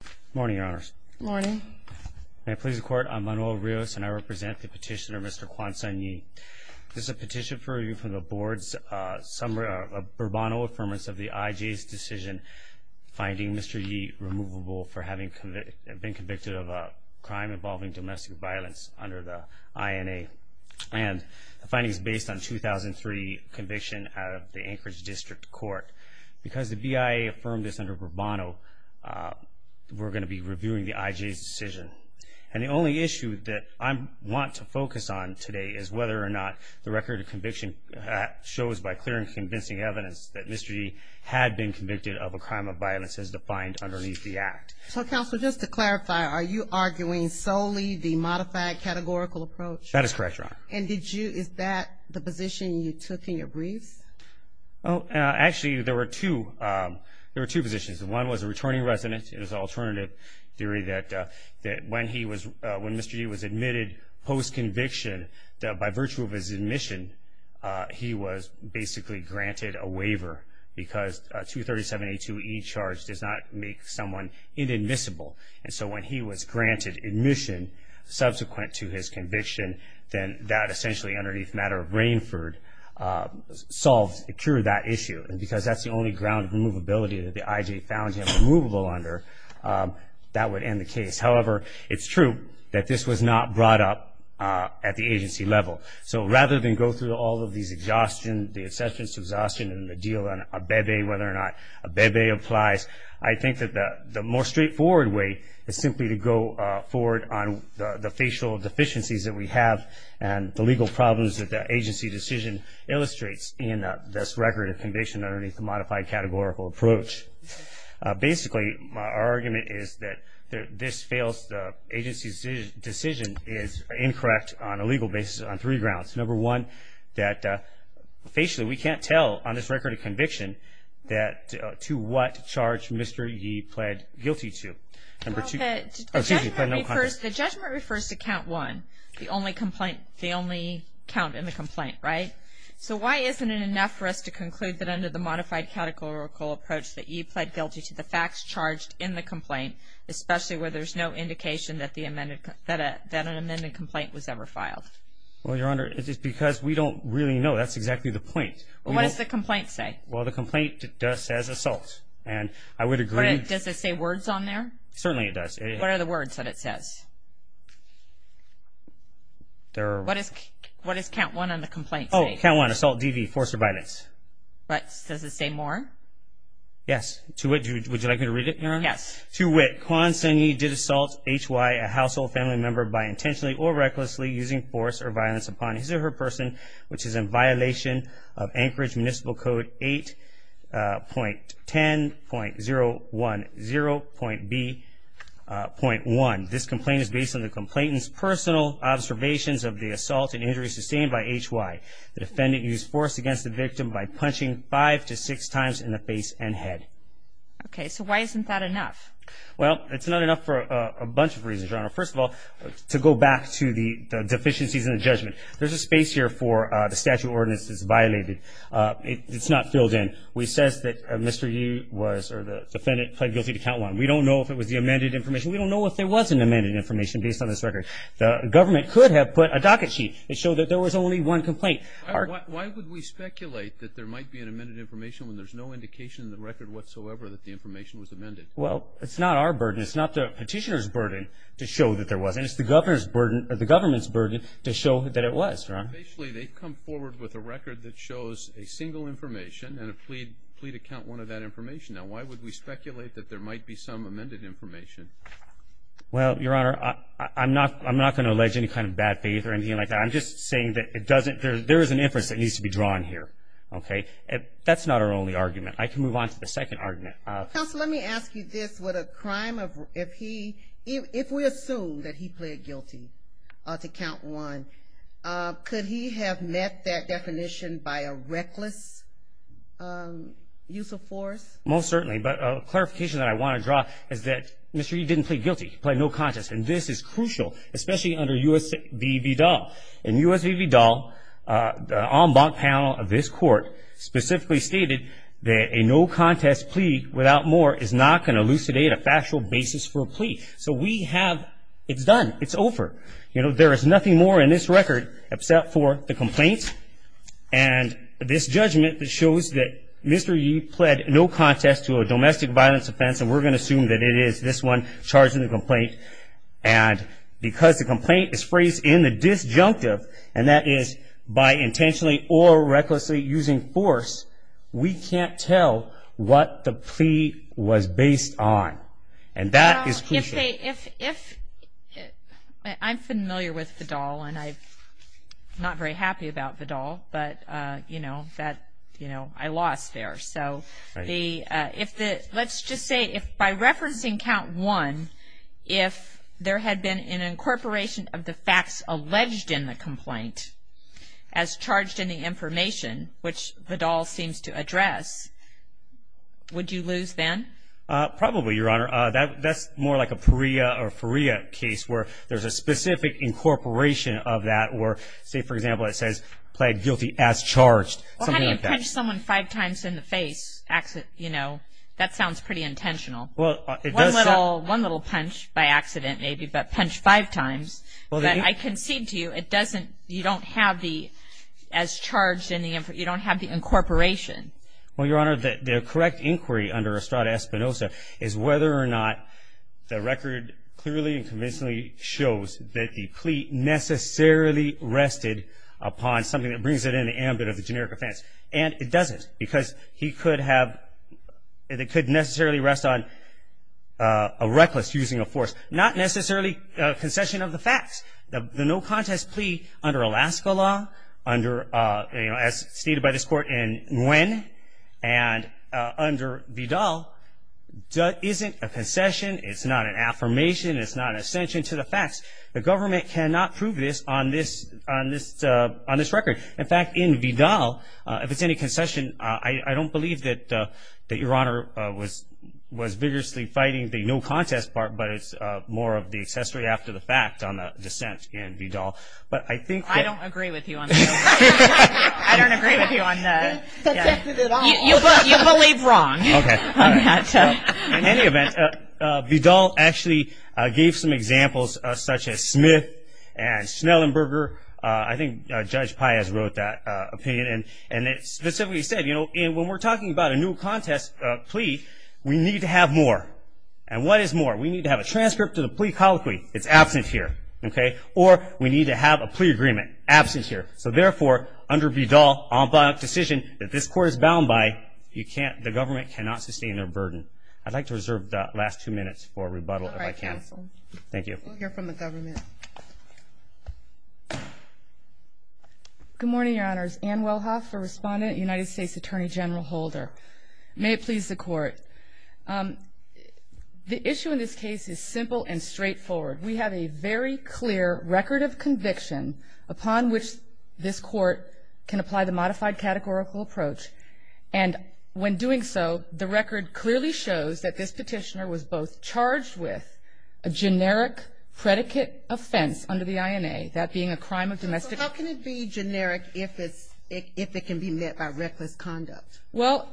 Good morning, Your Honors. Good morning. May it please the Court, I'm Manuel Rios, and I represent the petitioner, Mr. Kwan Sun Yi. This is a petition for review from the Board's Burbano Affirmative of the IJ's decision finding Mr. Yi removable for having been convicted of a crime involving domestic violence under the INA. And the finding is based on a 2003 conviction out of the Anchorage District Court. Because the BIA affirmed this under Burbano, we're going to be reviewing the IJ's decision. And the only issue that I want to focus on today is whether or not the record of conviction shows by clear and convincing evidence that Mr. Yi had been convicted of a crime of violence as defined underneath the act. So, Counselor, just to clarify, are you arguing solely the modified categorical approach? That is correct, Your Honor. And is that the position you took in your briefs? Actually, there were two positions. One was a returning resident. It was an alternative theory that when Mr. Yi was admitted post-conviction, that by virtue of his admission, he was basically granted a waiver because 237.82e charge does not make someone inadmissible. And so when he was granted admission subsequent to his conviction, then that essentially, underneath the matter of Rainford, solved, cured that issue. And because that's the only ground of removability that the IJ found him removable under, that would end the case. However, it's true that this was not brought up at the agency level. So rather than go through all of these exhaustion, the exceptions to exhaustion, and the deal on a bebe, whether or not a bebe applies, I think that the more straightforward way is simply to go forward on the facial deficiencies that we have and the legal problems that the agency decision illustrates in this record of conviction underneath the modified categorical approach. Basically, our argument is that this fails the agency's decision is incorrect on a legal basis on three grounds. Number one, that facially, we can't tell on this record of conviction that to what charge Mr. E pled guilty to. Number two. The judgment refers to count one, the only count in the complaint, right? So why isn't it enough for us to conclude that under the modified categorical approach, that E pled guilty to the facts charged in the complaint, especially where there's no indication that an amended complaint was ever filed? Well, Your Honor, it's because we don't really know. That's exactly the point. What does the complaint say? Well, the complaint does say assault, and I would agree. Does it say words on there? Certainly it does. What are the words that it says? What does count one on the complaint say? Oh, count one, assault DV, force or violence. But does it say more? Yes. Would you like me to read it, Your Honor? Yes. To wit, Kwan Seng Yee did assault HY, a household family member, by intentionally or recklessly using force or violence upon his or her person, which is in violation of Anchorage Municipal Code 8.10.010.B.1. This complaint is based on the complainant's personal observations of the assault and injury sustained by HY. The defendant used force against the victim by punching five to six times in the face and head. Okay. So why isn't that enough? Well, it's not enough for a bunch of reasons, Your Honor. First of all, to go back to the deficiencies in the judgment, there's a space here for the statute of ordinances violated. It's not filled in. It says that Mr. Yee was or the defendant pled guilty to count one. We don't know if it was the amended information. We don't know if there was an amended information based on this record. The government could have put a docket sheet and showed that there was only one complaint. Why would we speculate that there might be an amended information when there's no indication in the record whatsoever that the information was amended? Well, it's not our burden. It's not the petitioner's burden to show that there was, and it's the government's burden to show that it was, Ron. Basically, they've come forward with a record that shows a single information and a plea to count one of that information. Now, why would we speculate that there might be some amended information? Well, Your Honor, I'm not going to allege any kind of bad faith or anything like that. I'm just saying that there is an inference that needs to be drawn here. That's not our only argument. I can move on to the second argument. Counsel, let me ask you this. If we assume that he pled guilty to count one, could he have met that definition by a reckless use of force? Most certainly. But a clarification that I want to draw is that Mr. Yee didn't plead guilty. He pled no conscience. And this is crucial, especially under U.S. v. Vidal. In U.S. v. Vidal, the en banc panel of this court specifically stated that a no-contest plea without more is not going to elucidate a factual basis for a plea. So we have it done. It's over. There is nothing more in this record except for the complaint and this judgment that shows that Mr. Yee pled no contest to a domestic violence offense, and we're going to assume that it is this one charging the complaint. And because the complaint is phrased in the disjunctive, and that is by intentionally or recklessly using force, we can't tell what the plea was based on. And that is crucial. I'm familiar with Vidal, and I'm not very happy about Vidal, but, you know, I lost there. So let's just say if by referencing count one, if there had been an incorporation of the facts alleged in the complaint as charged in the information, which Vidal seems to address, would you lose then? Probably, Your Honor. That's more like a Perea or Faria case where there's a specific incorporation of that, or say, for example, it says, pled guilty as charged, something like that. If you punch someone five times in the face, you know, that sounds pretty intentional. One little punch by accident, maybe, but punch five times. I concede to you, you don't have the incorporation. Well, Your Honor, the correct inquiry under Estrada-Espinosa is whether or not the record clearly and convincingly shows that the plea necessarily rested upon something that brings it in the ambit of the generic offense. And it doesn't, because he could have, it could necessarily rest on a reckless using of force. Not necessarily a concession of the facts. The no contest plea under Alaska law, under, you know, as stated by this Court in Nguyen, and under Vidal isn't a concession, it's not an affirmation, it's not an ascension to the facts. The government cannot prove this on this record. In fact, in Vidal, if it's any concession, I don't believe that Your Honor was vigorously fighting the no contest part, but it's more of the accessory after the fact on the dissent in Vidal. But I think that. I don't agree with you on that. I don't agree with you on that. You believe wrong. In any event, Vidal actually gave some examples such as Smith and Schnellenberger. I think Judge Paez wrote that opinion, and it specifically said, you know, when we're talking about a no contest plea, we need to have more. And what is more? We need to have a transcript of the plea colloquy. It's absent here. Okay? Or we need to have a plea agreement. Absent here. So, therefore, under Vidal, on the decision that this Court is bound by, you can't, the government cannot sustain their burden. I'd like to reserve the last two minutes for rebuttal if I can. All right, counsel. Thank you. We'll hear from the government. Good morning, Your Honors. Ann Wellhoff, a respondent, United States Attorney General Holder. May it please the Court. The issue in this case is simple and straightforward. We have a very clear record of conviction upon which this Court can apply the modified categorical approach. And when doing so, the record clearly shows that this petitioner was both charged with a generic predicate offense under the INA, that being a crime of domestic How can it be generic if it can be met by reckless conduct? Well,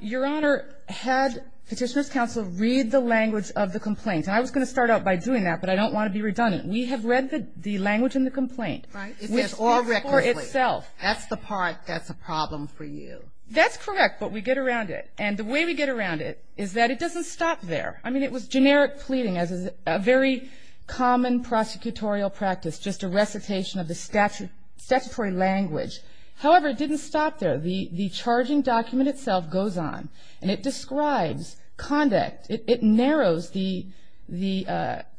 Your Honor, had Petitioner's Counsel read the language of the complaint, and I was going to start out by doing that, but I don't want to be redundant. We have read the language in the complaint. Right. It says all recklessly. For itself. That's the part that's a problem for you. That's correct, but we get around it. And the way we get around it is that it doesn't stop there. I mean, it was generic pleading as is a very common prosecutorial practice, just a recitation of the statutory language. However, it didn't stop there. The charging document itself goes on, and it describes conduct. It narrows the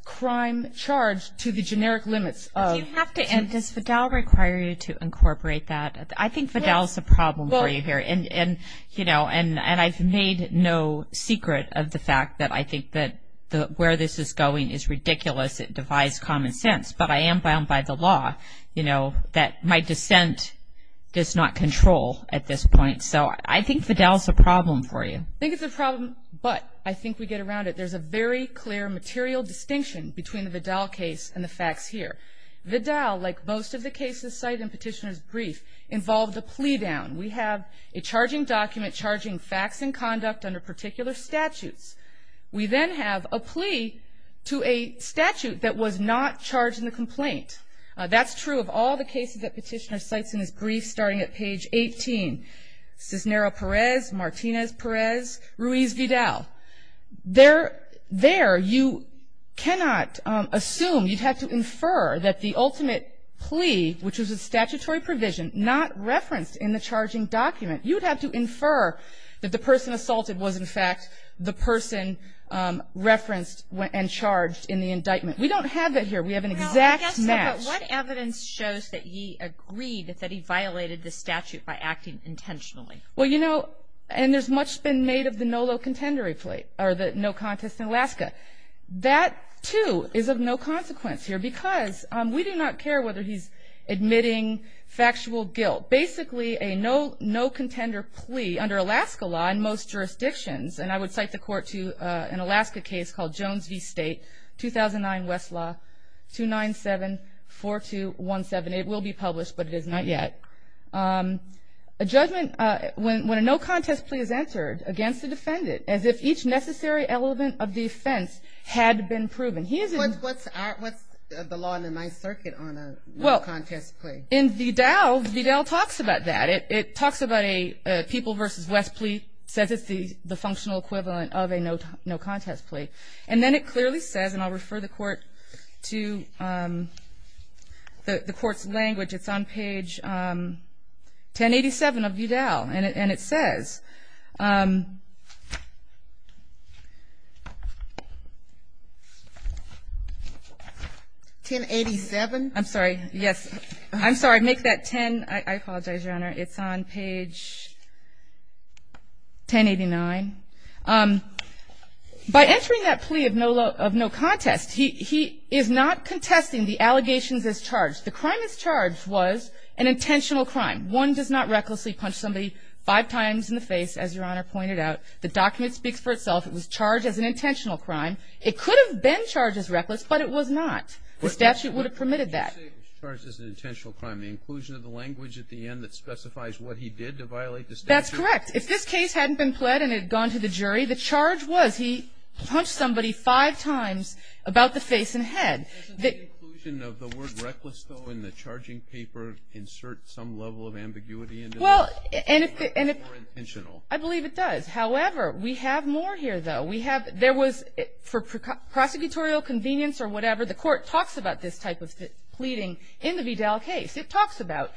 crime charge to the generic limits. Do you have to end this? Does Fidel require you to incorporate that? I think Fidel is a problem for you here, and, you know, and I've made no secret of the fact that I think that where this is going is ridiculous. It divides common sense, but I am bound by the law, you know, that my dissent does not control at this point. So I think Fidel is a problem for you. I think it's a problem, but I think we get around it. There's a very clear material distinction between the Fidel case and the facts here. Fidel, like most of the cases cited in Petitioner's brief, involved a plea down. We have a charging document charging facts and conduct under particular statutes. We then have a plea to a statute that was not charged in the complaint. That's true of all the cases that Petitioner cites in his brief starting at page 18. Cisnero-Perez, Martinez-Perez, Ruiz-Fidel. There you cannot assume, you'd have to infer that the ultimate plea, which was a statutory provision, not referenced in the charging document. You would have to infer that the person assaulted was, in fact, the person referenced and charged in the indictment. We don't have that here. We have an exact match. But what evidence shows that he agreed that he violated the statute by acting intentionally? Well, you know, and there's much been made of the NOLO contender plea, or the no contest in Alaska. That, too, is of no consequence here because we do not care whether he's admitting factual guilt. Basically, a no contender plea under Alaska law in most jurisdictions, and I would cite the court to an Alaska case called Jones v. State, 2009 West Law, 297-4217. It will be published, but it is not yet. A judgment when a no contest plea is answered against the defendant as if each necessary element of the offense had been proven. What's the law in the Ninth Circuit on a no contest plea? Well, in Vidal, Vidal talks about that. It talks about a people v. West plea, says it's the functional equivalent of a no contest plea. And then it clearly says, and I'll refer the court to the court's language. It's on page 1087 of Vidal, and it says 1087. I'm sorry. Yes. I'm sorry. Make that 10. I apologize, Your Honor. It's on page 1089. By answering that plea of no contest, he is not contesting the allegations as charged. The crime as charged was an intentional crime. One does not recklessly punch somebody five times in the face, as Your Honor pointed out. The document speaks for itself. It was charged as an intentional crime. It could have been charged as reckless, but it was not. The statute would have permitted that. I'm not saying it was charged as an intentional crime. The inclusion of the language at the end that specifies what he did to violate the statute. That's correct. If this case hadn't been pled and it had gone to the jury, the charge was he punched somebody five times about the face and head. Doesn't the inclusion of the word reckless, though, in the charging paper insert some level of ambiguity into this? Well, and if the -- Or intentional. I believe it does. However, we have more here, though. We have -- there was, for prosecutorial convenience or whatever, the court talks about this type of pleading in the Vidal case. It talks about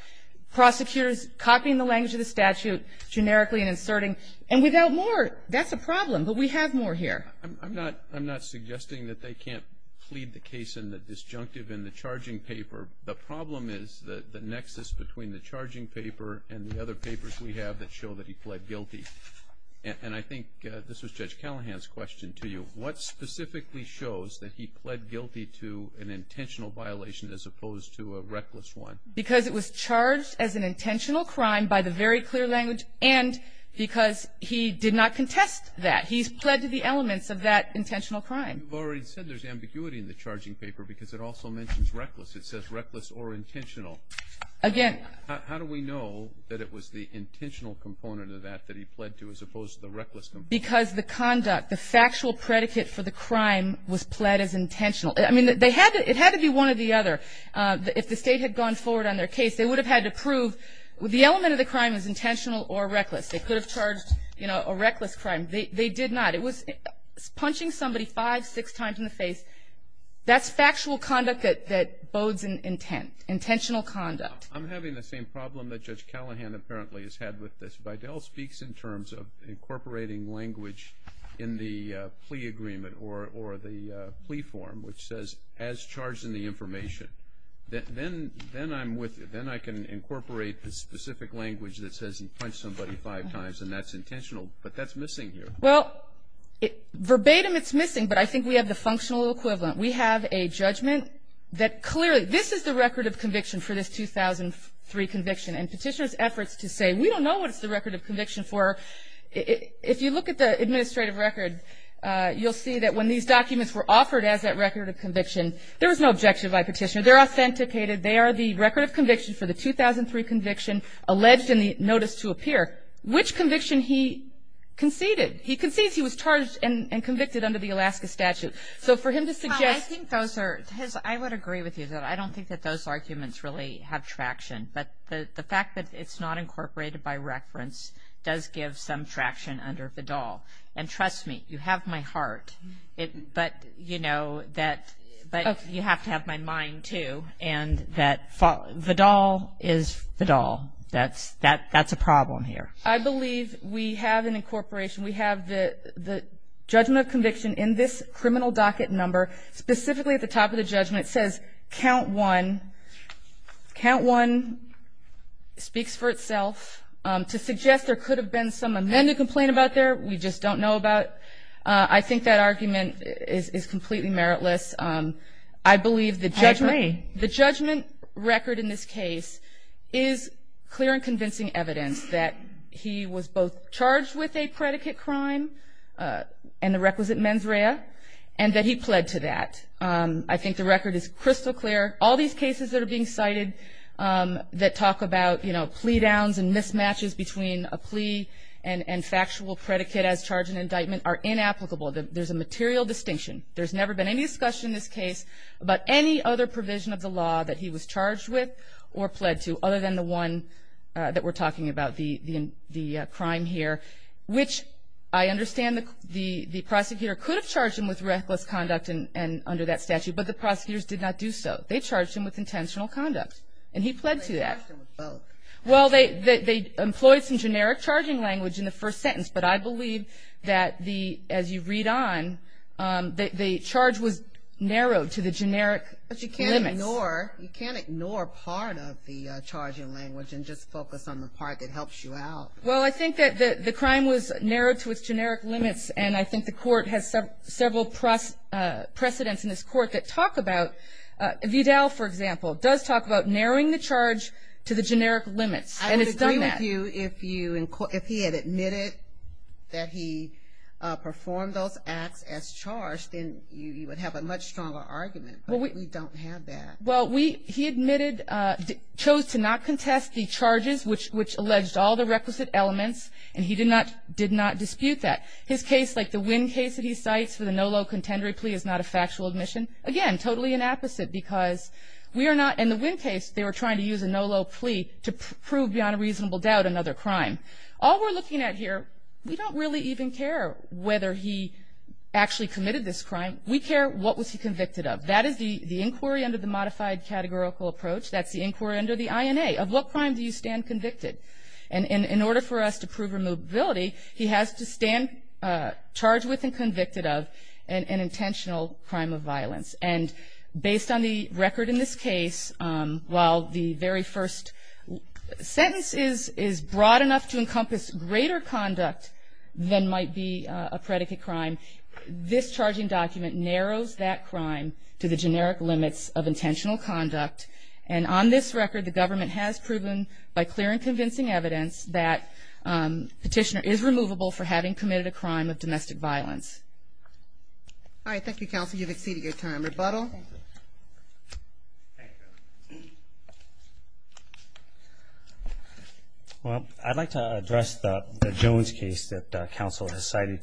prosecutors copying the language of the statute, generically and inserting. And without more, that's a problem, but we have more here. I'm not suggesting that they can't plead the case in the disjunctive in the charging paper. The problem is the nexus between the charging paper and the other papers we have that show that he pled guilty. And I think this was Judge Callahan's question to you. What specifically shows that he pled guilty to an intentional violation as opposed to a reckless one? Because it was charged as an intentional crime by the very clear language and because he did not contest that. He's pled to the elements of that intentional crime. You've already said there's ambiguity in the charging paper because it also mentions reckless. It says reckless or intentional. Again -- How do we know that it was the intentional component of that that he pled to as opposed to the reckless component? Because the conduct, the factual predicate for the crime was pled as intentional. I mean, it had to be one or the other. If the State had gone forward on their case, they would have had to prove the element of the crime is intentional or reckless. They could have charged a reckless crime. They did not. It was punching somebody five, six times in the face. That's factual conduct that bodes intent, intentional conduct. I'm having the same problem that Judge Callahan apparently has had with this. If Adele speaks in terms of incorporating language in the plea agreement or the plea form, which says as charged in the information, then I'm with you. Then I can incorporate the specific language that says he punched somebody five times and that's intentional, but that's missing here. Well, verbatim it's missing, but I think we have the functional equivalent. We have a judgment that clearly this is the record of conviction for this 2003 conviction and Petitioner's efforts to say, we don't know what it's the record of conviction for. If you look at the administrative record, you'll see that when these documents were offered as that record of conviction, there was no objection by Petitioner. They're authenticated. They are the record of conviction for the 2003 conviction alleged in the notice to appear. Which conviction he conceded. He concedes he was charged and convicted under the Alaska statute. So for him to suggest. Well, I think those are, I would agree with you. I don't think that those arguments really have traction. But the fact that it's not incorporated by reference does give some traction under Vidal. And trust me, you have my heart, but, you know, that you have to have my mind, too. And that Vidal is Vidal. That's a problem here. I believe we have an incorporation. We have the judgment of conviction in this criminal docket number. Specifically at the top of the judgment, it says count one. Count one speaks for itself. To suggest there could have been some amended complaint about there, we just don't know about. I think that argument is completely meritless. I believe the judgment record in this case is clear and convincing evidence that he was both charged with a predicate crime and the requisite mens rea, and that he pled to that. I think the record is crystal clear. All these cases that are being cited that talk about, you know, plea downs and mismatches between a plea and factual predicate as charge and indictment are inapplicable. There's a material distinction. There's never been any discussion in this case about any other provision of the law that he was charged with or pled to other than the one that we're talking about, the crime here, which I understand the prosecutor could have charged him with reckless conduct under that statute, but the prosecutors did not do so. They charged him with intentional conduct, and he pled to that. Well, they employed some generic charging language in the first sentence, but I believe that as you read on, the charge was narrowed to the generic limits. But you can't ignore part of the charging language and just focus on the part that helps you out. Well, I think that the crime was narrowed to its generic limits, and I think the court has several precedents in this court that talk about, Vidal, for example, does talk about narrowing the charge to the generic limits, and it's done that. I would agree with you if he had admitted that he performed those acts as charged, then you would have a much stronger argument, but we don't have that. Well, he admitted, chose to not contest the charges, which alleged all the requisite elements, and he did not dispute that. His case, like the Winn case that he cites for the Nolo contendory plea, is not a factual admission. Again, totally an apposite because we are not, in the Winn case, they were trying to use a Nolo plea to prove beyond a reasonable doubt another crime. All we're looking at here, we don't really even care whether he actually committed this crime. We care what was he convicted of. That is the inquiry under the modified categorical approach. That's the inquiry under the INA, of what crime do you stand convicted. And in order for us to prove removability, he has to stand charged with and convicted of an intentional crime of violence. And based on the record in this case, while the very first sentence is broad enough to encompass greater conduct than might be a predicate crime, this charging document narrows that crime to the generic limits of intentional conduct. And on this record, the government has proven by clear and convincing evidence that Petitioner is removable for having committed a crime of domestic violence. All right. Thank you, Counsel. You've exceeded your time. Rebuttal? Well, I'd like to address the Jones case that Counsel has cited.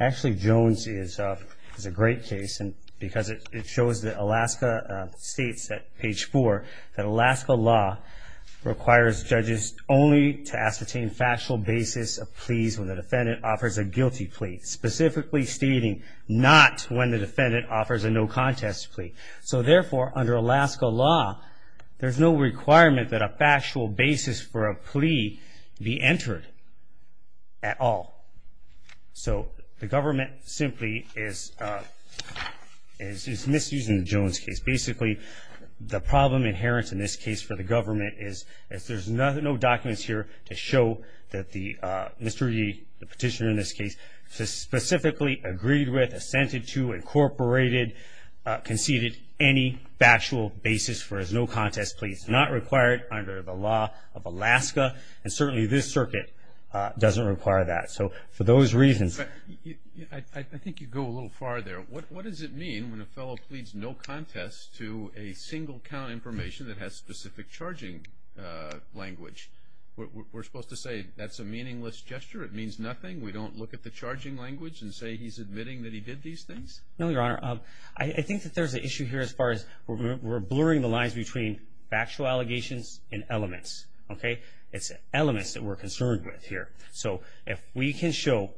Actually, Jones is a great case because it shows that Alaska states at page 4 that Alaska law requires judges only to ascertain factual basis of pleas when the defendant offers a guilty plea, specifically stating not when the defendant offers a no contest plea. So therefore, under Alaska law, there's no requirement that a factual basis for a plea be entered at all. So the government simply is misusing the Jones case. Basically, the problem inherent in this case for the government is there's no documents here to show that Mr. Reed, the Petitioner in this case, specifically agreed with, assented to, incorporated, conceded any factual basis for his no contest plea. It's not required under the law of Alaska, and certainly this circuit doesn't require that. So for those reasons. I think you go a little far there. What does it mean when a fellow pleads no contest to a single count information that has specific charging language? We're supposed to say that's a meaningless gesture? It means nothing? We don't look at the charging language and say he's admitting that he did these things? No, Your Honor. I think that there's an issue here as far as we're blurring the lines between factual allegations and elements. Okay? It's elements that we're concerned with here. So if we can show,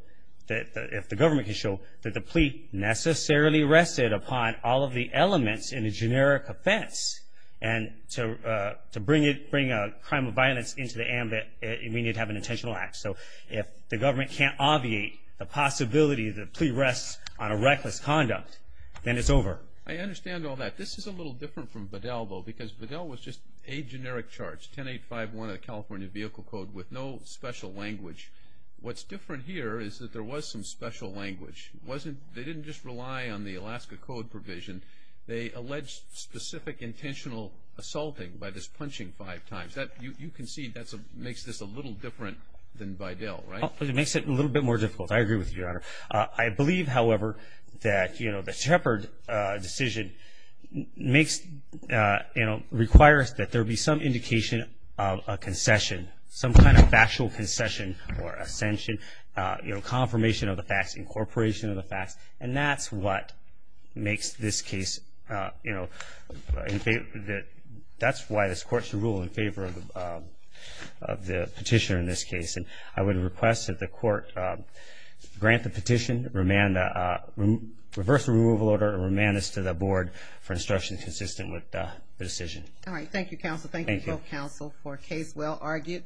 if the government can show that the plea necessarily rested upon all of the elements in a generic offense and to bring a crime of violence into the ambit, we need to have an intentional act. So if the government can't obviate the possibility the plea rests on a reckless conduct, then it's over. I understand all that. This is a little different from Bedell, though, because Bedell was just a generic charge, 10851 of the California Vehicle Code, with no special language. What's different here is that there was some special language. They didn't just rely on the Alaska Code provision. They alleged specific intentional assaulting by just punching five times. You can see that makes this a little different than Bedell, right? It makes it a little bit more difficult. I agree with you, Your Honor. I believe, however, that, you know, the Shepard decision makes, you know, requires that there be some indication of a concession, some kind of factual concession or ascension, you know, confirmation of the facts, incorporation of the facts, and that's what makes this case, you know, that's why this Court should rule in favor of the petitioner in this case. And I would request that the Court grant the petition, reverse the removal order, and remand this to the Board for instruction consistent with the decision. All right. Thank you, Counsel. Thank you both, Counsel, for a case well argued.